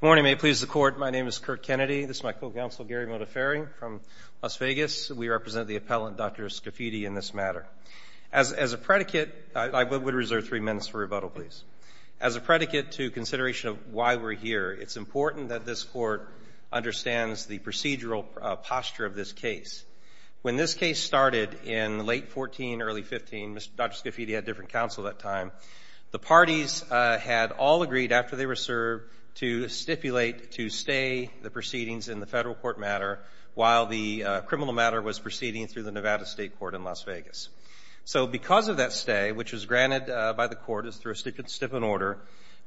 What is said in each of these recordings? Good morning. May it please the Court, my name is Kurt Kennedy. This is my co-counsel Gary Modafferi from Las Vegas. We represent the appellant, Dr. Scafidi, in this matter. As a predicate, I would reserve three minutes for rebuttal, please. As a predicate to consideration of why we're here, it's important that this Court understands the procedural posture of this case. When this case started in late 14, early 15, Dr. Scafidi had different counsel at that time. The parties had all agreed, after they were served, to stipulate to stay the proceedings in the federal court matter, while the criminal matter was proceeding through the Nevada State Court in Las Vegas. So because of that stay, which was granted by the Court as through a stipend order,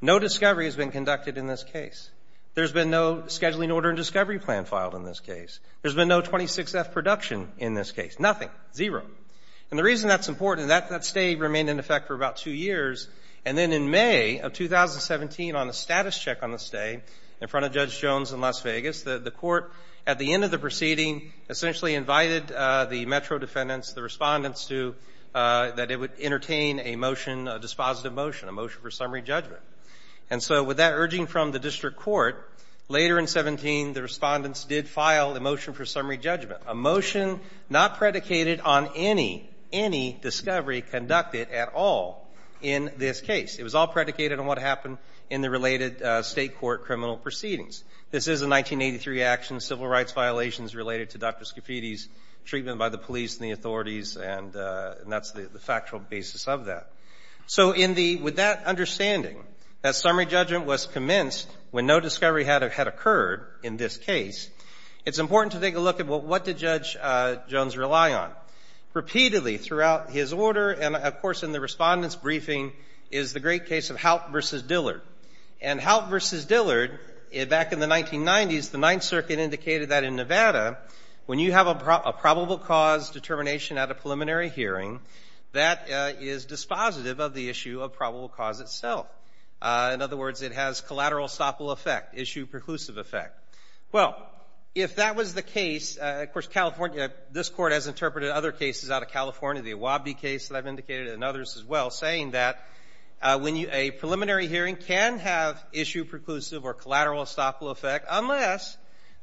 no discovery has been conducted in this case. There's been no scheduling order and discovery plan filed in this case. There's been no 26-F production in this case, nothing, zero. And the reason that's important, that stay remained in effect for about two years. And then in May of 2017, on a status check on the stay in front of Judge Jones in Las Vegas, the Court, at the end of the proceeding, essentially invited the metro defendants, the respondents, that it would entertain a motion, a dispositive motion, a motion for summary judgment. And so with that urging from the district court, later in 17, the respondents did file a motion for summary judgment, a motion not predicated on any, any discovery conducted at all in this case. It was all predicated on what happened in the related State court criminal proceedings. This is a 1983 action, civil rights violations related to Dr. Scafidi's treatment by the police and the authorities, and that's the factual basis of that. So in the, with that understanding, that summary judgment was commenced when no discovery had occurred in this case, it's important to take a look at what did Judge Jones rely on. Repeatedly throughout his order, and of course in the respondents' briefing, is the great case of Haupt v. Dillard. And Haupt v. Dillard, back in the 1990s, the Ninth Circuit indicated that in Nevada, when you have a probable cause determination at a preliminary hearing, that is dispositive of the issue of probable cause itself. In other words, it has collateral estoppel effect, issue preclusive effect. Well, if that was the case, of course, California, this Court has interpreted other cases out of California, the Awabdi case that I've indicated and others as well, saying that when you, a preliminary hearing can have issue preclusive or collateral estoppel effect unless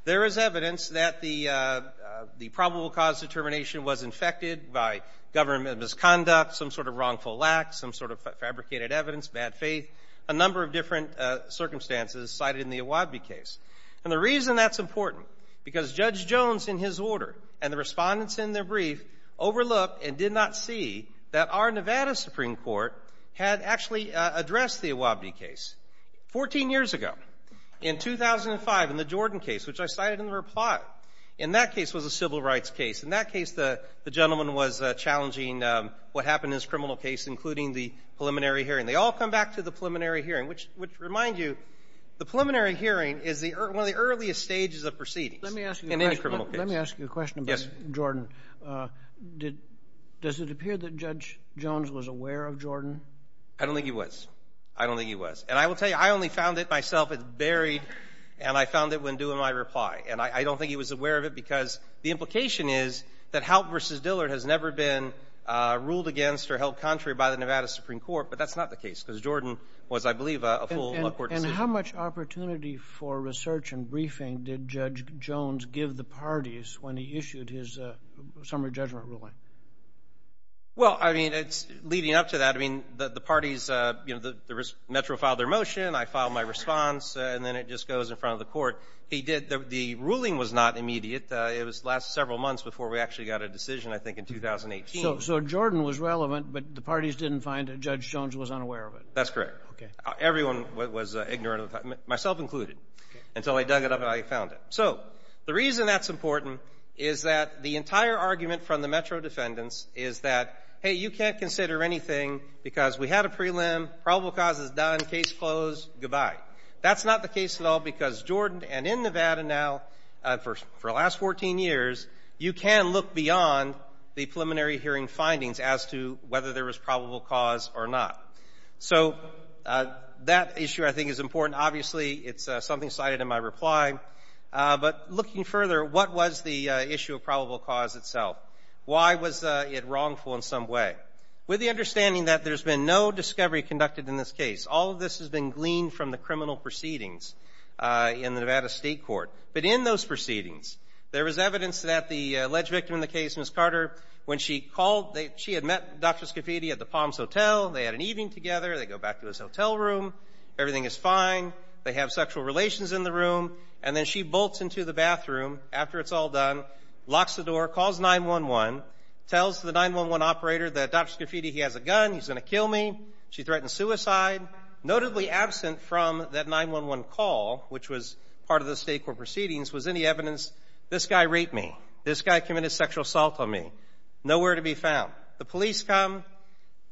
there is evidence that the probable cause determination was infected by government misconduct, some sort of wrongful lack, some sort of fabricated evidence, bad faith, a number of different circumstances cited in the Awabdi case. And the reason that's important, because Judge Jones in his order and the respondents in their brief overlooked and did not see that our Nevada Supreme Court had actually addressed the Awabdi case. Fourteen years ago, in 2005, in the Jordan case, which I cited in the reply, in that case was a civil rights case. In that case, the gentleman was challenging what happened in this criminal case, including the preliminary hearing. They all come back to the preliminary hearing, which reminds you, the preliminary hearing is one of the earliest stages of proceedings in any criminal case. Let me ask you a question about Jordan. Yes. Does it appear that Judge Jones was aware of Jordan? I don't think he was. I don't think he was. And I will tell you, I only found it myself. It's buried. And I found it when doing my reply. And I don't think he was aware of it because the implication is that Halp v. Dillard has never been ruled against or held contrary by the Nevada Supreme Court, but that's not the case because Jordan was, I believe, a full court decision. And how much opportunity for research and briefing did Judge Jones give the parties when he issued his summary judgment ruling? Well, I mean, leading up to that, I mean, the parties, you know, Metro filed their motion, I filed my response, and then it just goes in front of the court. He did. The ruling was not immediate. It was the last several months before we actually got a decision, I think, in 2018. So Jordan was relevant, but the parties didn't find that Judge Jones was unaware of it. That's correct. Okay. Everyone was ignorant of it, myself included, until I dug it up and I found it. So the reason that's important is that the entire argument from the Metro defendants is that, hey, you can't consider anything because we had a prelim, probable cause is done, case closed, goodbye. That's not the case at all because Jordan and in Nevada now, for the last 14 years, you can look beyond the preliminary hearing findings as to whether there was probable cause or not. So that issue, I think, is important. Obviously, it's something cited in my reply. But looking further, what was the issue of probable cause itself? Why was it wrongful in some way? With the understanding that there's been no discovery conducted in this case, all of this has been gleaned from the criminal proceedings in the Nevada State Court. But in those proceedings, there was evidence that the alleged victim in the case, Ms. Carter, when she called, she had met Dr. Scafidi at the Palms Hotel. They had an evening together. They go back to his hotel room. Everything is fine. They have sexual relations in the room. And then she bolts into the bathroom after it's all done, locks the door, calls 911, tells the 911 operator that Dr. Scafidi, he has a gun, he's going to kill me. She threatens suicide. Notably absent from that 911 call, which was part of the State Court proceedings, was any evidence, this guy raped me, this guy committed sexual assault on me. Nowhere to be found. The police come.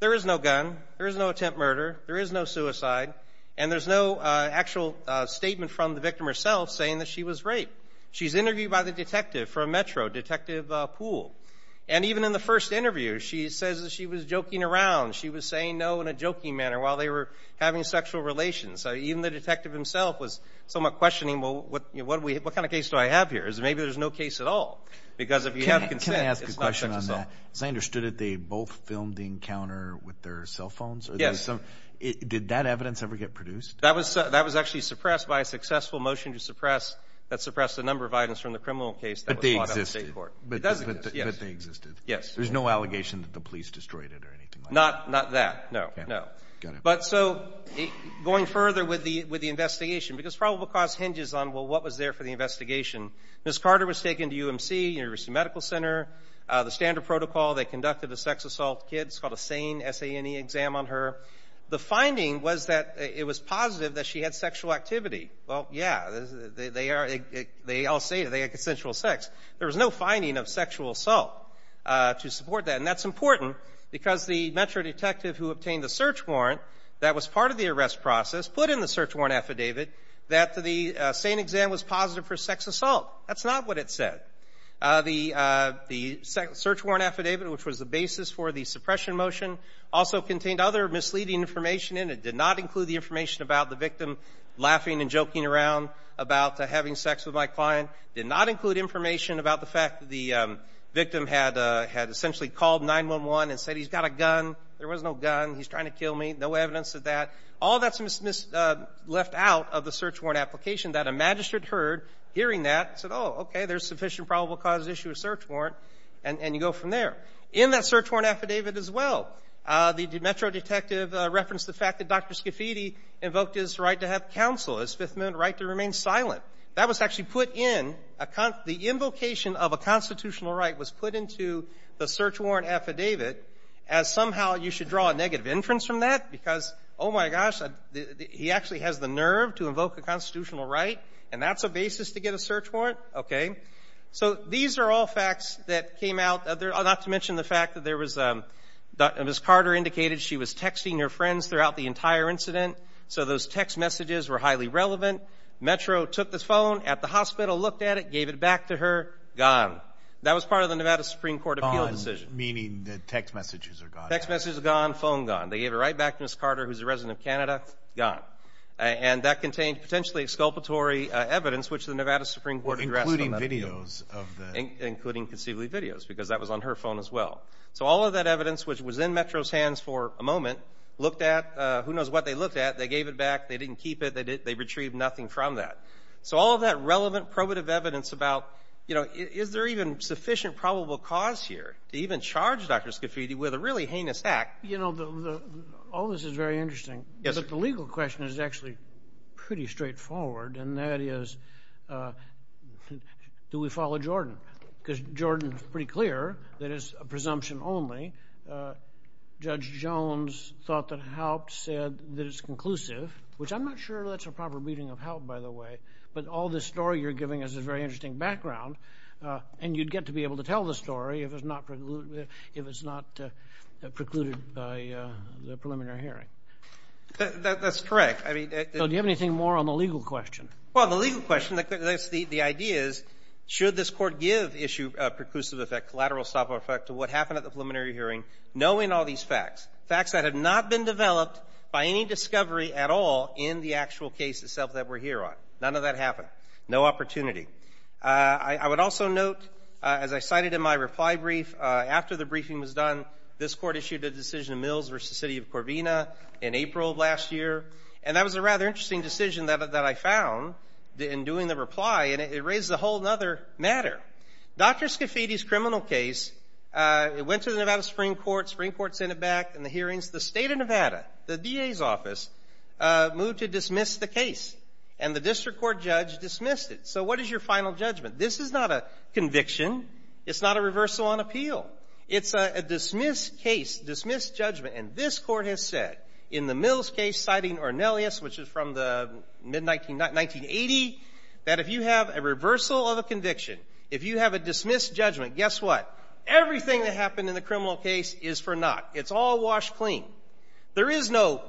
There is no gun. There is no attempt murder. There is no suicide. And there's no actual statement from the victim herself saying that she was raped. She's interviewed by the detective from Metro, Detective Poole. And even in the first interview, she says that she was joking around. She was saying no in a jokey manner while they were having sexual relations. So even the detective himself was somewhat questioning, well, what kind of case do I have here? Maybe there's no case at all. Because if you have consent, it's not sexual assault. Can I ask a question on that? As I understood it, they both filmed the encounter with their cell phones? Yes. Did that evidence ever get produced? That was actually suppressed by a successful motion to suppress that suppressed a number of items from the criminal case that was brought up in the State Court. But they existed. Yes. But they existed. Yes. There's no allegation that the police destroyed it or anything like that. Not that. No, no. Got it. But so going further with the investigation, because probable cause hinges on, well, what was there for the investigation. Ms. Carter was taken to UMC, University Medical Center. The standard protocol, they conducted a sex assault. The kid's got a SANE, S-A-N-E, exam on her. The finding was that it was positive that she had sexual activity. Well, yeah, they all say that they had consensual sex. There was no finding of sexual assault to support that. And that's important because the Metro detective who obtained the search warrant that was part of the arrest process put in the search warrant affidavit that the SANE exam was positive for sex assault. That's not what it said. The search warrant affidavit, which was the basis for the suppression motion, also contained other misleading information in it. It did not include the information about the victim laughing and joking around about having sex with my client. It did not include information about the fact that the victim had essentially called 911 and said, he's got a gun. There was no gun. He's trying to kill me. No evidence of that. All that's left out of the search warrant application that a magistrate heard hearing that and said, oh, okay, there's sufficient probable cause to issue a search warrant, and you go from there. In that search warrant affidavit as well, the Metro detective referenced the fact that Dr. Scafidi invoked his right to have counsel, his Fifth Amendment right to remain silent. That was actually put in the invocation of a constitutional right was put into the search warrant affidavit as somehow you should draw a negative inference from that because, oh, my gosh, he actually has the nerve to invoke a constitutional right, and that's a basis to get a search warrant? Okay. So these are all facts that came out, not to mention the fact that there was Dr. Ms. Carter indicated she was texting her friends throughout the entire incident, so those text messages were highly relevant. Metro took the phone at the hospital, looked at it, gave it back to her, gone. That was part of the Nevada Supreme Court appeal decision. Gone, meaning the text messages are gone. Text messages are gone, phone gone. They gave it right back to Ms. Carter, who's a resident of Canada, gone. And that contained potentially exculpatory evidence, which the Nevada Supreme Court addressed on that appeal. Including videos of the ---- Including conceivably videos because that was on her phone as well. So all of that evidence, which was in Metro's hands for a moment, looked at, who knows what they looked at. They gave it back. They didn't keep it. They retrieved nothing from that. So all of that relevant probative evidence about, you know, is there even sufficient probable cause here to even charge Dr. Scafidi with a really heinous act? You know, all this is very interesting. Yes, sir. But the legal question is actually pretty straightforward, and that is, do we follow Jordan? Because Jordan is pretty clear that it's a presumption only. Judge Jones thought that HALP said that it's conclusive, which I'm not sure that's a proper reading of HALP, by the way. But all this story you're giving is a very interesting background, and you'd get to be able to tell the story if it's not precluded by the preliminary hearing. That's correct. So do you have anything more on the legal question? Well, the legal question, the idea is, should this court give issue a preclusive effect, to what happened at the preliminary hearing, knowing all these facts, facts that have not been developed by any discovery at all in the actual case itself that we're here on? None of that happened. No opportunity. I would also note, as I cited in my reply brief, after the briefing was done, this court issued a decision, Mills v. City of Corvina, in April of last year, and that was a rather interesting decision that I found in doing the reply, and it raised a whole other matter. Dr. Scafidi's criminal case, it went to the Nevada Supreme Court, Supreme Court sent it back in the hearings. The state of Nevada, the DA's office, moved to dismiss the case, and the district court judge dismissed it. So what is your final judgment? This is not a conviction. It's not a reversal on appeal. It's a dismissed case, dismissed judgment, and this court has said in the Mills case, citing Ornelius, which is from the mid-1980, that if you have a reversal of a conviction, if you have a dismissed judgment, guess what? Everything that happened in the criminal case is for naught. It's all washed clean. There is no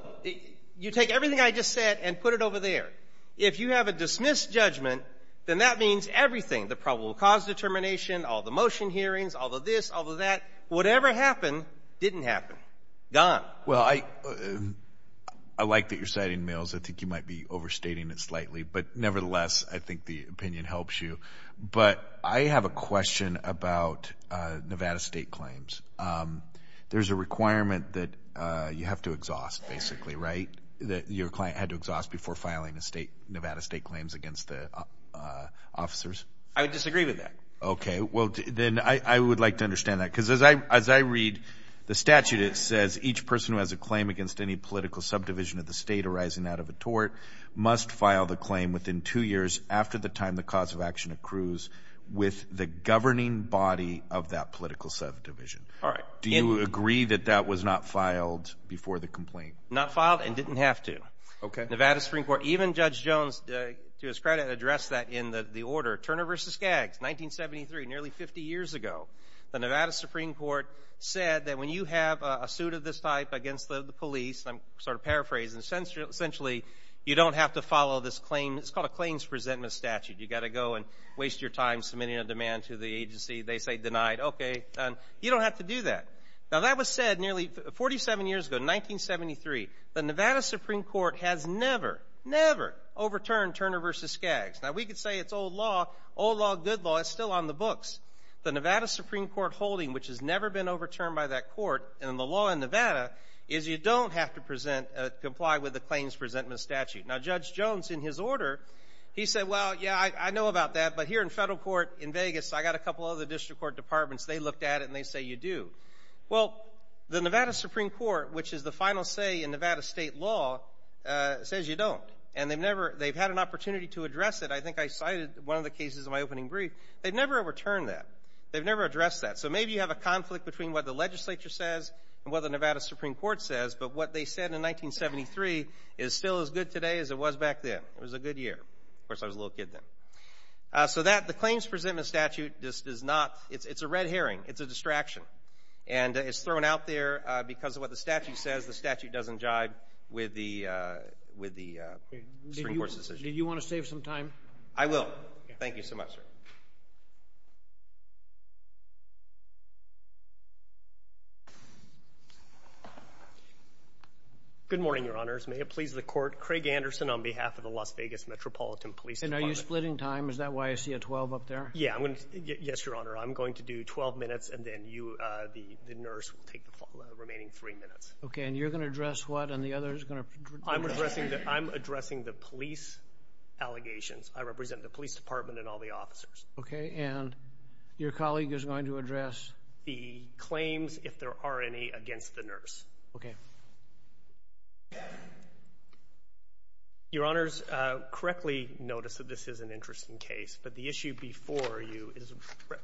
you take everything I just said and put it over there. If you have a dismissed judgment, then that means everything, the probable cause determination, all the motion hearings, all the this, all the that. Whatever happened didn't happen. Gone. Well, I like that you're citing Mills. I think you might be overstating it slightly, but nevertheless, I think the opinion helps you. But I have a question about Nevada state claims. There's a requirement that you have to exhaust, basically, right, that your client had to exhaust before filing Nevada state claims against the officers? I would disagree with that. Okay. Well, then I would like to understand that, because as I read the statute, it says each person who has a claim against any political subdivision of the state arising out of a tort must file the claim within two years after the time the cause of action accrues with the governing body of that political subdivision. All right. Do you agree that that was not filed before the complaint? Not filed and didn't have to. Okay. Nevada Supreme Court, even Judge Jones, to his credit, addressed that in the order. Turner v. Skaggs, 1973, nearly 50 years ago, the Nevada Supreme Court said that when you have a suit of this type against the police, and I'm sort of paraphrasing, essentially you don't have to follow this claim. It's called a claims resentment statute. You've got to go and waste your time submitting a demand to the agency. They say denied. Okay. You don't have to do that. Now, that was said nearly 47 years ago, 1973. The Nevada Supreme Court has never, never overturned Turner v. Skaggs. Now, we could say it's old law. Old law, good law, it's still on the books. The Nevada Supreme Court holding, which has never been overturned by that court, and the law in Nevada is you don't have to comply with the claims resentment statute. Now, Judge Jones, in his order, he said, well, yeah, I know about that, but here in federal court in Vegas I've got a couple of other district court departments. They looked at it and they say you do. Well, the Nevada Supreme Court, which is the final say in Nevada state law, says you don't. And they've had an opportunity to address it. I think I cited one of the cases in my opening brief. They've never overturned that. They've never addressed that. So maybe you have a conflict between what the legislature says and what the Nevada Supreme Court says, but what they said in 1973 is still as good today as it was back then. It was a good year. Of course, I was a little kid then. So that, the claims resentment statute, it's a red herring. It's a distraction. And it's thrown out there because of what the statute says. The statute doesn't jive with the Supreme Court's decision. Do you want to save some time? I will. Thank you so much, sir. Good morning, Your Honors. May it please the Court, Craig Anderson on behalf of the Las Vegas Metropolitan Police Department. And are you splitting time? Is that why I see a 12 up there? Yes, Your Honor. I'm going to do 12 minutes and then you, the nurse, will take the remaining three minutes. Okay, and you're going to address what and the other is going to do this? I'm addressing the police allegations. I represent the police department and all the officers. Okay, and your colleague is going to address? The claims, if there are any, against the nurse. Okay. Your Honors, correctly notice that this is an interesting case. But the issue before you is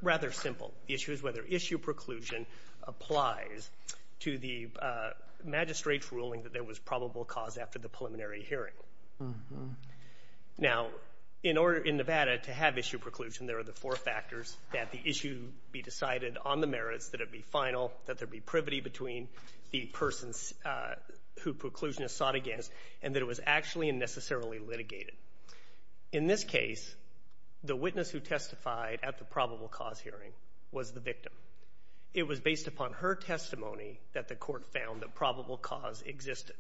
rather simple. The issue is whether issue preclusion applies to the magistrate's ruling that there was probable cause after the preliminary hearing. Now, in order in Nevada to have issue preclusion, there are the four factors that the issue be decided on the merits, that it be final, that there be privity between the persons who preclusion is sought against, and that it was actually and necessarily litigated. In this case, the witness who testified at the probable cause hearing was the victim. It was based upon her testimony that the Court found that probable cause existed.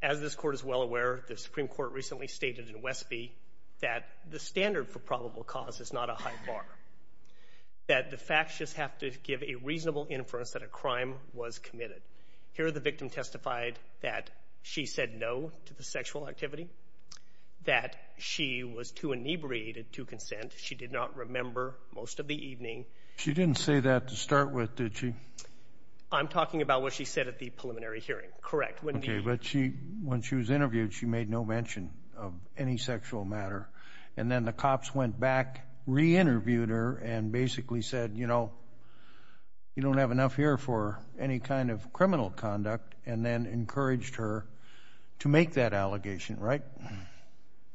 As this Court is well aware, the Supreme Court recently stated in Westby that the standard for probable cause is not a high bar, that the facts just have to give a reasonable inference that a crime was committed. Here, the victim testified that she said no to the sexual activity, that she was too inebriated to consent. She did not remember most of the evening. She didn't say that to start with, did she? I'm talking about what she said at the preliminary hearing. Correct. Okay, but when she was interviewed, she made no mention of any sexual matter, and then the cops went back, re-interviewed her, and basically said, you know, you don't have enough here for any kind of criminal conduct, and then encouraged her to make that allegation, right?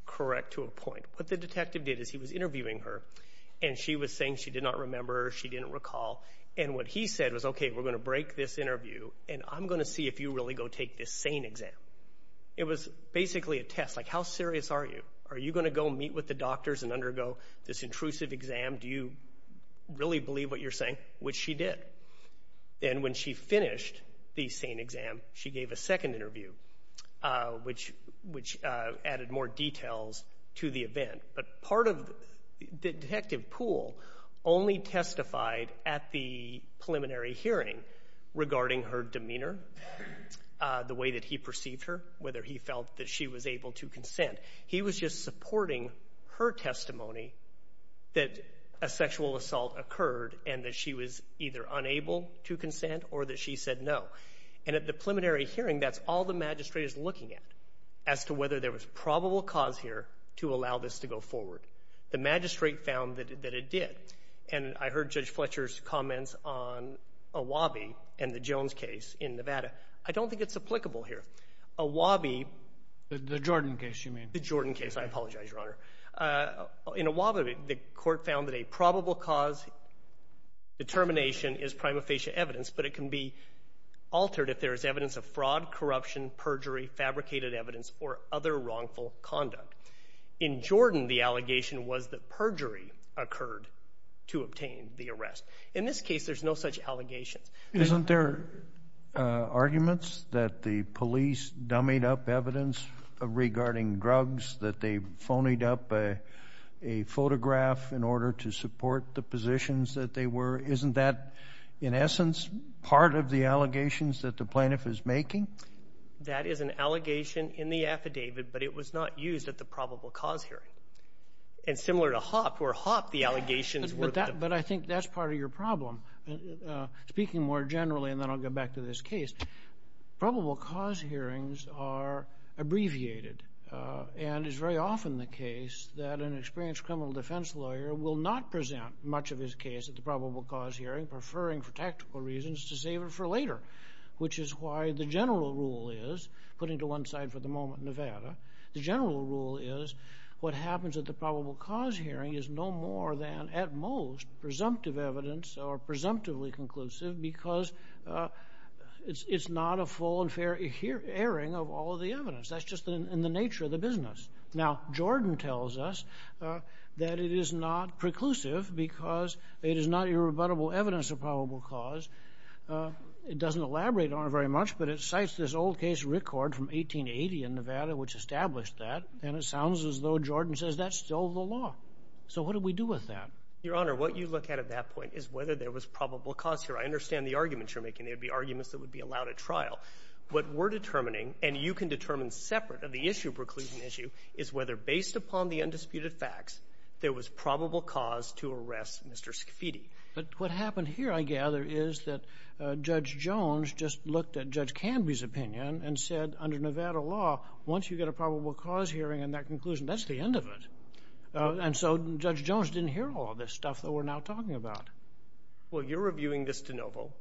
Correct, to a point. What the detective did is he was interviewing her, and she was saying she did not remember, she didn't recall, and what he said was, okay, we're going to break this interview, and I'm going to see if you really go take this sane exam. It was basically a test, like how serious are you? Are you going to go meet with the doctors and undergo this intrusive exam? Do you really believe what you're saying, which she did. And when she finished the sane exam, she gave a second interview, which added more details to the event. But part of the detective pool only testified at the preliminary hearing regarding her demeanor, the way that he perceived her, whether he felt that she was able to consent. He was just supporting her testimony that a sexual assault occurred and that she was either unable to consent or that she said no. And at the preliminary hearing, that's all the magistrate is looking at, as to whether there was probable cause here to allow this to go forward. The magistrate found that it did. And I heard Judge Fletcher's comments on Awabi and the Jones case in Nevada. I don't think it's applicable here. Awabi. The Jordan case, you mean. The Jordan case. I apologize, Your Honor. In Awabi, the court found that a probable cause determination is prima facie evidence, but it can be altered if there is evidence of fraud, corruption, perjury, fabricated evidence, or other wrongful conduct. In Jordan, the allegation was that perjury occurred to obtain the arrest. In this case, there's no such allegations. Isn't there arguments that the police dummied up evidence regarding drugs, that they phonied up a photograph in order to support the positions that they were? Isn't that, in essence, part of the allegations that the plaintiff is making? That is an allegation in the affidavit, but it was not used at the probable cause hearing. And similar to Hopp, where Hopp the allegations were. But I think that's part of your problem. Speaking more generally, and then I'll go back to this case, probable cause hearings are abbreviated, and it's very often the case that an experienced criminal defense lawyer will not present much of his case at the probable cause hearing, preferring for tactical reasons to save it for later, which is why the general rule is, putting to one side for the moment Nevada, the general rule is what happens at the probable cause hearing is no more than, at most, presumptive evidence or presumptively conclusive because it's not a full and fair airing of all the evidence. That's just in the nature of the business. Now, Jordan tells us that it is not preclusive because it is not irrebuttable evidence of probable cause. It doesn't elaborate on it very much, but it cites this old case, Rickord, from 1880 in Nevada, which established that, and it sounds as though Jordan says that's still the law. So what do we do with that? Your Honor, what you look at at that point is whether there was probable cause here. I understand the arguments you're making. They would be arguments that would be allowed at trial. What we're determining, and you can determine separate of the issue, preclusion issue, is whether based upon the undisputed facts there was probable cause to arrest Mr. Scafidi. But what happened here, I gather, is that Judge Jones just looked at Judge Canby's opinion and said under Nevada law, once you get a probable cause hearing and that conclusion, that's the end of it. And so Judge Jones didn't hear all this stuff that we're now talking about. Well, you're reviewing this de novo,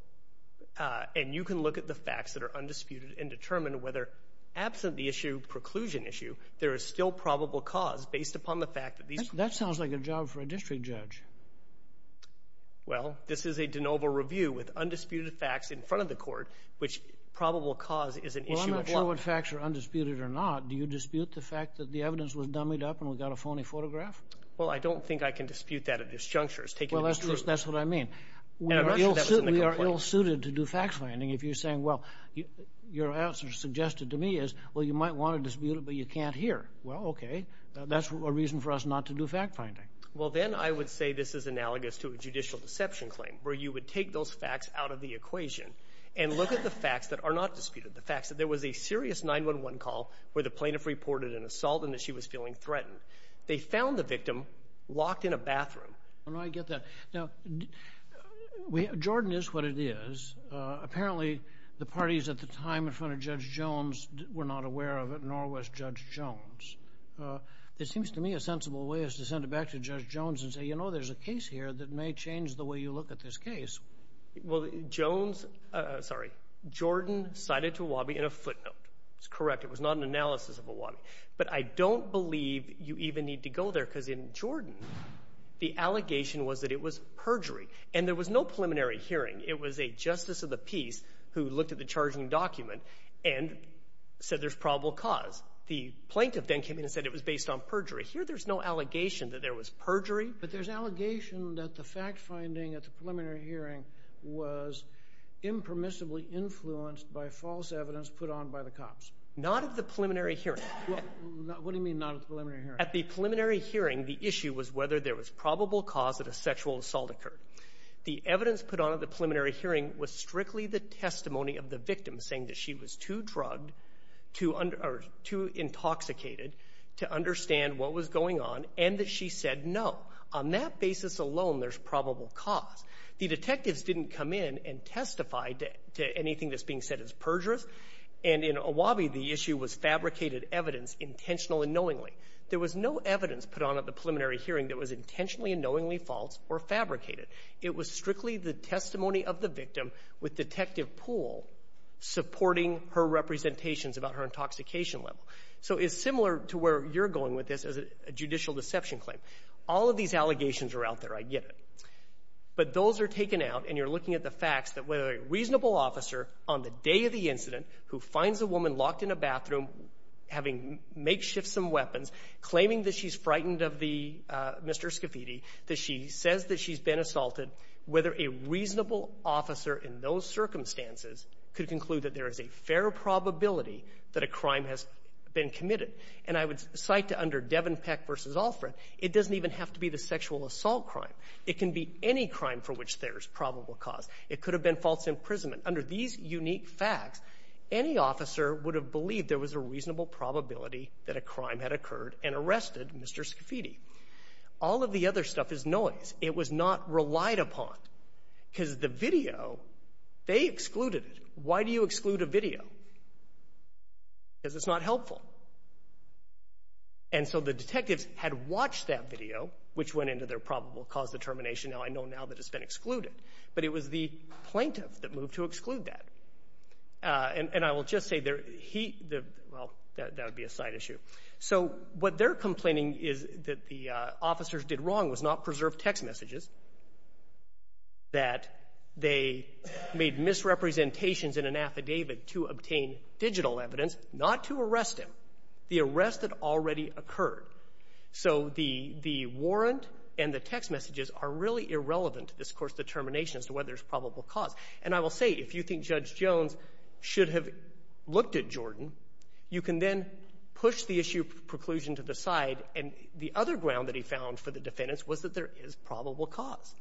and you can look at the facts that are undisputed and determine whether, absent the issue, preclusion issue, there is still probable cause based upon the fact that these... That sounds like a job for a district judge. Well, this is a de novo review with undisputed facts in front of the court, which probable cause is an issue of law. Well, I'm not sure what facts are undisputed or not. Do you dispute the fact that the evidence was dummied up and we got a phony photograph? Well, I don't think I can dispute that at this juncture. Well, that's what I mean. And I'm not sure that was in the complaint. We are ill-suited to do fact-finding if you're saying, well, your answer suggested to me is, well, you might want to dispute it, but you can't hear. Well, okay, that's a reason for us not to do fact-finding. Well, then I would say this is analogous to a judicial deception claim where you would take those facts out of the equation and look at the facts that are not disputed, the facts that there was a serious 911 call where the plaintiff reported an assault and that she was feeling threatened. They found the victim locked in a bathroom. I get that. Now, Jordan is what it is. Apparently, the parties at the time in front of Judge Jones were not aware of it, nor was Judge Jones. It seems to me a sensible way is to send it back to Judge Jones and say, you know, there's a case here that may change the way you look at this case. Well, Jones—sorry, Jordan cited to Awabi in a footnote. It's correct. It was not an analysis of Awabi. But I don't believe you even need to go there because in Jordan the allegation was that it was perjury, and there was no preliminary hearing. It was a justice of the peace who looked at the charging document and said there's probable cause. The plaintiff then came in and said it was based on perjury. Here there's no allegation that there was perjury. But there's allegation that the fact-finding at the preliminary hearing was impermissibly influenced by false evidence put on by the cops. Not at the preliminary hearing. What do you mean not at the preliminary hearing? At the preliminary hearing, the issue was whether there was probable cause that a sexual assault occurred. The evidence put on at the preliminary hearing was strictly the testimony of the victim saying that she was too drugged to—or too intoxicated to understand what was going on and that she said no. On that basis alone, there's probable cause. The detectives didn't come in and testify to anything that's being said as perjurous. And in Awabi, the issue was fabricated evidence intentionally and knowingly. There was no evidence put on at the preliminary hearing that was intentionally and knowingly false or fabricated. It was strictly the testimony of the victim with Detective Poole supporting her representations about her intoxication level. So it's similar to where you're going with this as a judicial deception claim. All of these allegations are out there. I get it. But those are taken out, and you're looking at the facts that whether a reasonable officer on the day of the incident who finds a woman locked in a bathroom having makeshift some weapons, claiming that she's frightened of the Mr. Scafidi, that she says that she's been assaulted, whether a reasonable officer in those circumstances could conclude that there is a fair probability that a crime has been committed. And I would cite to under Devenpeck v. Alfred, it doesn't even have to be the sexual assault crime. It can be any crime for which there is probable cause. It could have been false imprisonment. Under these unique facts, any officer would have believed there was a reasonable probability that a crime had occurred and arrested Mr. Scafidi. All of the other stuff is noise. It was not relied upon because the video, they excluded it. Why do you exclude a video? Because it's not helpful. And so the detectives had watched that video, which went into their probable cause determination. Now I know now that it's been excluded. But it was the plaintiff that moved to exclude that. And I will just say, well, that would be a side issue. So what they're complaining is that the officers did wrong was not preserve text messages, that they made misrepresentations in an affidavit to obtain digital evidence, not to arrest him. The arrest had already occurred. So the warrant and the text messages are really irrelevant to this court's determination as to whether there's probable cause. And I will say, if you think Judge Jones should have looked at Jordan, you can then push the issue of preclusion to the side. And the other ground that he found for the defendants was that there is probable cause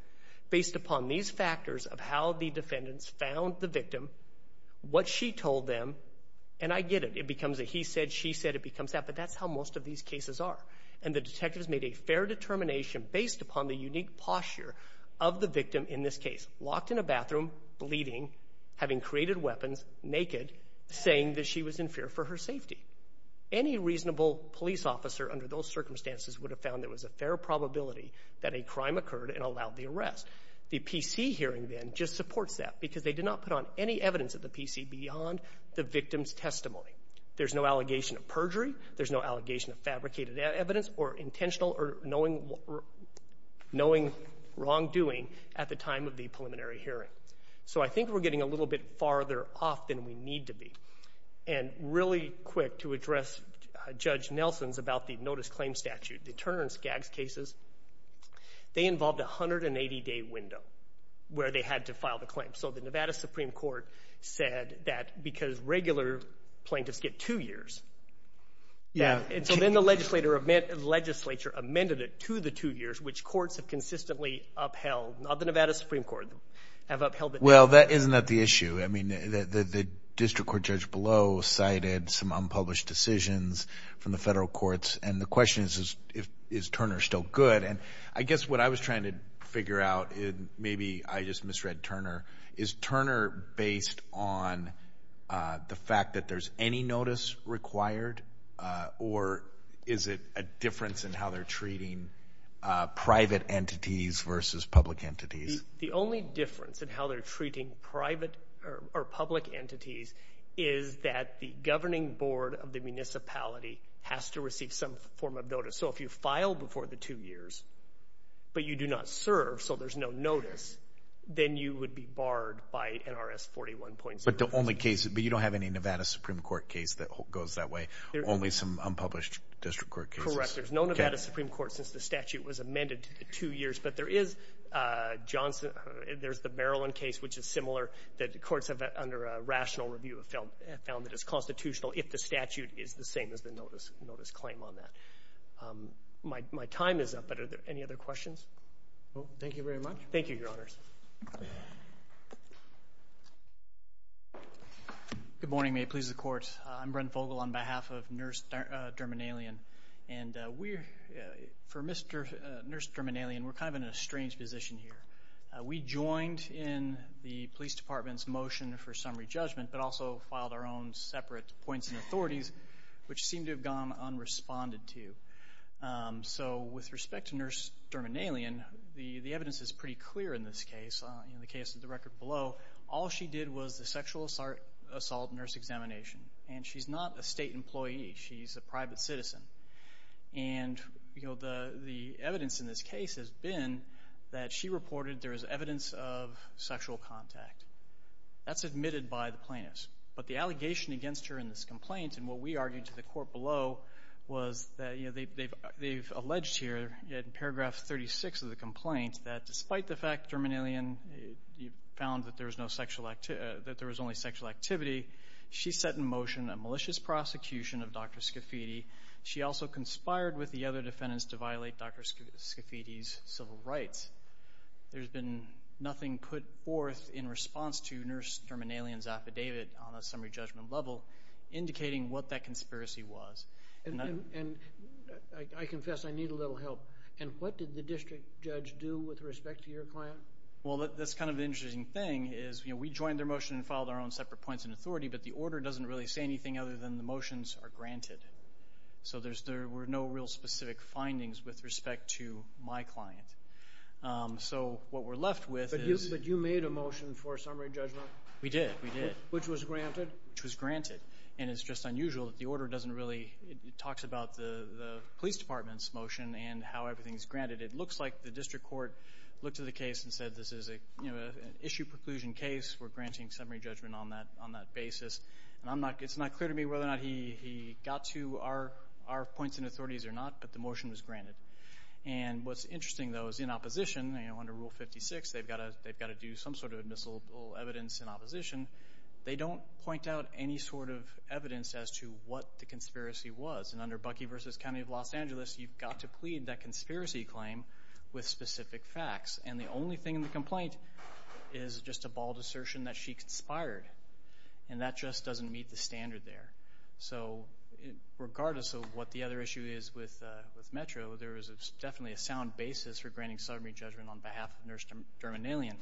based upon these factors of how the defendants found the victim, what she told them. And I get it. It becomes a he said, she said. It becomes that. But that's how most of these cases are. And the detectives made a fair determination based upon the unique posture of the victim in this case, locked in a bathroom, bleeding, having created weapons, naked, saying that she was in fear for her safety. Any reasonable police officer under those circumstances would have found there was a fair probability that a crime occurred and allowed the arrest. The PC hearing then just supports that because they did not put on any evidence at the PC beyond the victim's testimony. There's no allegation of perjury. There's no allegation of fabricated evidence or intentional or knowing wrongdoing at the time of the preliminary hearing. So I think we're getting a little bit farther off than we need to be. And really quick to address Judge Nelson's about the notice claim statute. The Turner and Skaggs cases, they involved a 180-day window where they had to file the claim. So the Nevada Supreme Court said that because regular plaintiffs get two years. And so then the legislature amended it to the two years, which courts have consistently upheld. Not the Nevada Supreme Court. Well, isn't that the issue? I mean, the district court judge below cited some unpublished decisions from the federal courts. And the question is, is Turner still good? And I guess what I was trying to figure out, and maybe I just misread Turner, is Turner based on the fact that there's any notice required, or is it a difference in how they're treating private entities versus public entities? The only difference in how they're treating private or public entities is that the governing board of the municipality has to receive some form of notice. So if you file before the two years, but you do not serve, so there's no notice, then you would be barred by NRS 41.0. But you don't have any Nevada Supreme Court case that goes that way, only some unpublished district court cases? Correct. There's no Nevada Supreme Court since the statute was amended to the two years. But there is Johnson. There's the Maryland case, which is similar. The courts, under a rational review, have found that it's constitutional if the statute is the same as the notice claim on that. My time is up, but are there any other questions? Thank you very much. Thank you, Your Honors. Good morning. May it please the Court. I'm Brent Vogel on behalf of Nurse Derminalian. And for Nurse Derminalian, we're kind of in a strange position here. We joined in the police department's motion for summary judgment, but also filed our own separate points and authorities, which seem to have gone unresponded to. So with respect to Nurse Derminalian, the evidence is pretty clear in this case. In the case of the record below, all she did was the sexual assault nurse examination. And she's not a state employee. She's a private citizen. And the evidence in this case has been that she reported there is evidence of sexual contact. That's admitted by the plaintiffs. But the allegation against her in this complaint, and what we argued to the court below, was that they've alleged here, in paragraph 36 of the complaint, that despite the fact Derminalian found that there was only sexual activity, she set in motion a malicious prosecution of Dr. Scafidi. She also conspired with the other defendants to violate Dr. Scafidi's civil rights. There's been nothing put forth in response to Nurse Derminalian's affidavit on a summary judgment level indicating what that conspiracy was. And I confess I need a little help. And what did the district judge do with respect to your client? Well, that's kind of an interesting thing is, you know, we joined their motion and filed our own separate points and authority, but the order doesn't really say anything other than the motions are granted. So there were no real specific findings with respect to my client. So what we're left with is – But you made a motion for a summary judgment? We did. We did. Which was granted? Which was granted. And it's just unusual that the order doesn't really – it talks about the police department's motion and how everything's granted. It looks like the district court looked at the case and said, this is an issue preclusion case. We're granting summary judgment on that basis. And it's not clear to me whether or not he got to our points and authorities or not, but the motion was granted. And what's interesting, though, is in opposition, you know, under Rule 56, they've got to do some sort of admissible evidence in opposition. They don't point out any sort of evidence as to what the conspiracy was. And under Bucky v. County of Los Angeles, you've got to plead that conspiracy claim with specific facts. And the only thing in the complaint is just a bald assertion that she conspired. And that just doesn't meet the standard there. So regardless of what the other issue is with Metro, there is definitely a sound basis for granting summary judgment on behalf of Nurse Derminalian.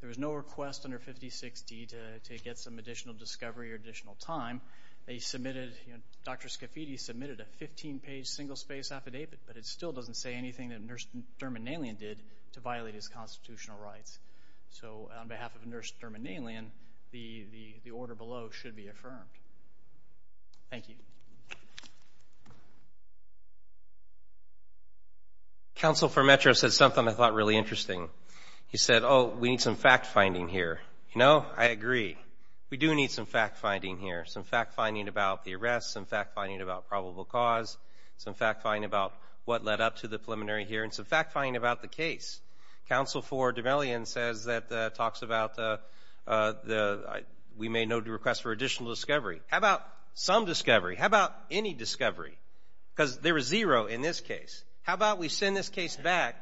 There was no request under 56D to get some additional discovery or additional time. They submitted – Dr. Scafidi submitted a 15-page single-space affidavit, but it still doesn't say anything that Nurse Derminalian did to violate his constitutional rights. So on behalf of Nurse Derminalian, the order below should be affirmed. Thank you. Counsel for Metro said something I thought really interesting. He said, oh, we need some fact-finding here. You know, I agree. We do need some fact-finding here, some fact-finding about the arrests, some fact-finding about probable cause, some fact-finding about what led up to the preliminary hearing, some fact-finding about the case. Counsel for Derminalian says that talks about we may no request for additional discovery. How about some discovery? How about any discovery? Because there is zero in this case. How about we send this case back,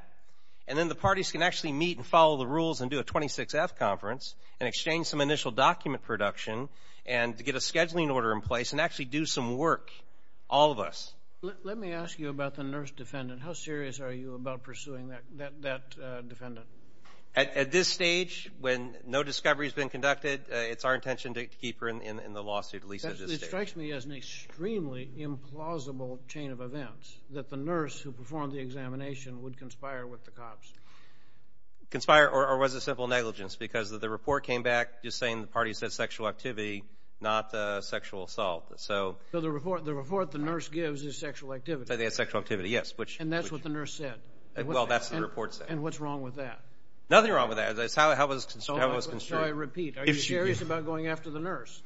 and then the parties can actually meet and follow the rules and do a 26F conference and exchange some initial document production and get a scheduling order in place and actually do some work, all of us. Let me ask you about the nurse defendant. How serious are you about pursuing that defendant? At this stage, when no discovery has been conducted, it's our intention to keep her in the lawsuit at least at this stage. It strikes me as an extremely implausible chain of events, that the nurse who performed the examination would conspire with the cops. Conspire or was a simple negligence because the report came back just saying the parties had sexual activity, not sexual assault. So the report the nurse gives is sexual activity. They had sexual activity, yes. And that's what the nurse said? Well, that's what the report said. And what's wrong with that? Nothing wrong with that. It's how it was constructed. Shall I repeat? Are you serious about going after the nurse?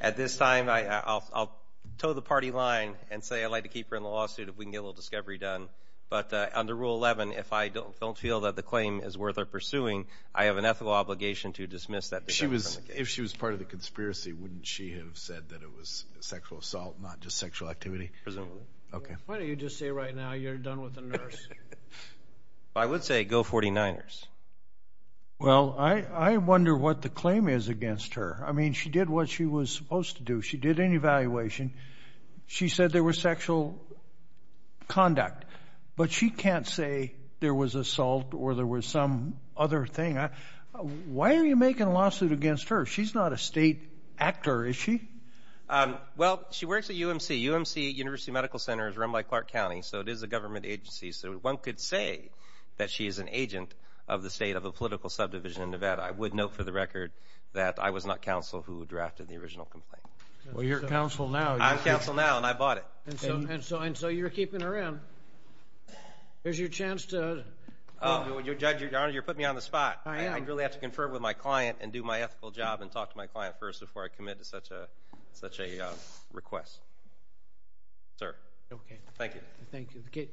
At this time, I'll toe the party line and say I'd like to keep her in the lawsuit if we can get a little discovery done. But under Rule 11, if I don't feel that the claim is worth pursuing, I have an ethical obligation to dismiss that defendant. If she was part of the conspiracy, wouldn't she have said that it was sexual assault, not just sexual activity? Presumably. Why don't you just say right now you're done with the nurse? I would say go 49ers. Well, I wonder what the claim is against her. I mean, she did what she was supposed to do. She did an evaluation. She said there was sexual conduct. But she can't say there was assault or there was some other thing. Why are you making a lawsuit against her? She's not a state actor, is she? Well, she works at UMC. UMC, University Medical Center, is run by Clark County, so it is a government agency. So one could say that she is an agent of the state of a political subdivision in Nevada. I would note for the record that I was not counsel who drafted the original complaint. Well, you're counsel now. I'm counsel now, and I bought it. And so you're keeping her in. Here's your chance to. Your Honor, you're putting me on the spot. I am. I'd like to confer with my client and do my ethical job and talk to my client first before I commit to such a request. Sir. Okay. Thank you. The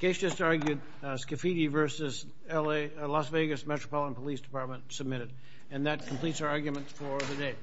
case just argued, Scafidi v. Las Vegas Metropolitan Police Department submitted. And that completes our arguments for the day. We're adjourned.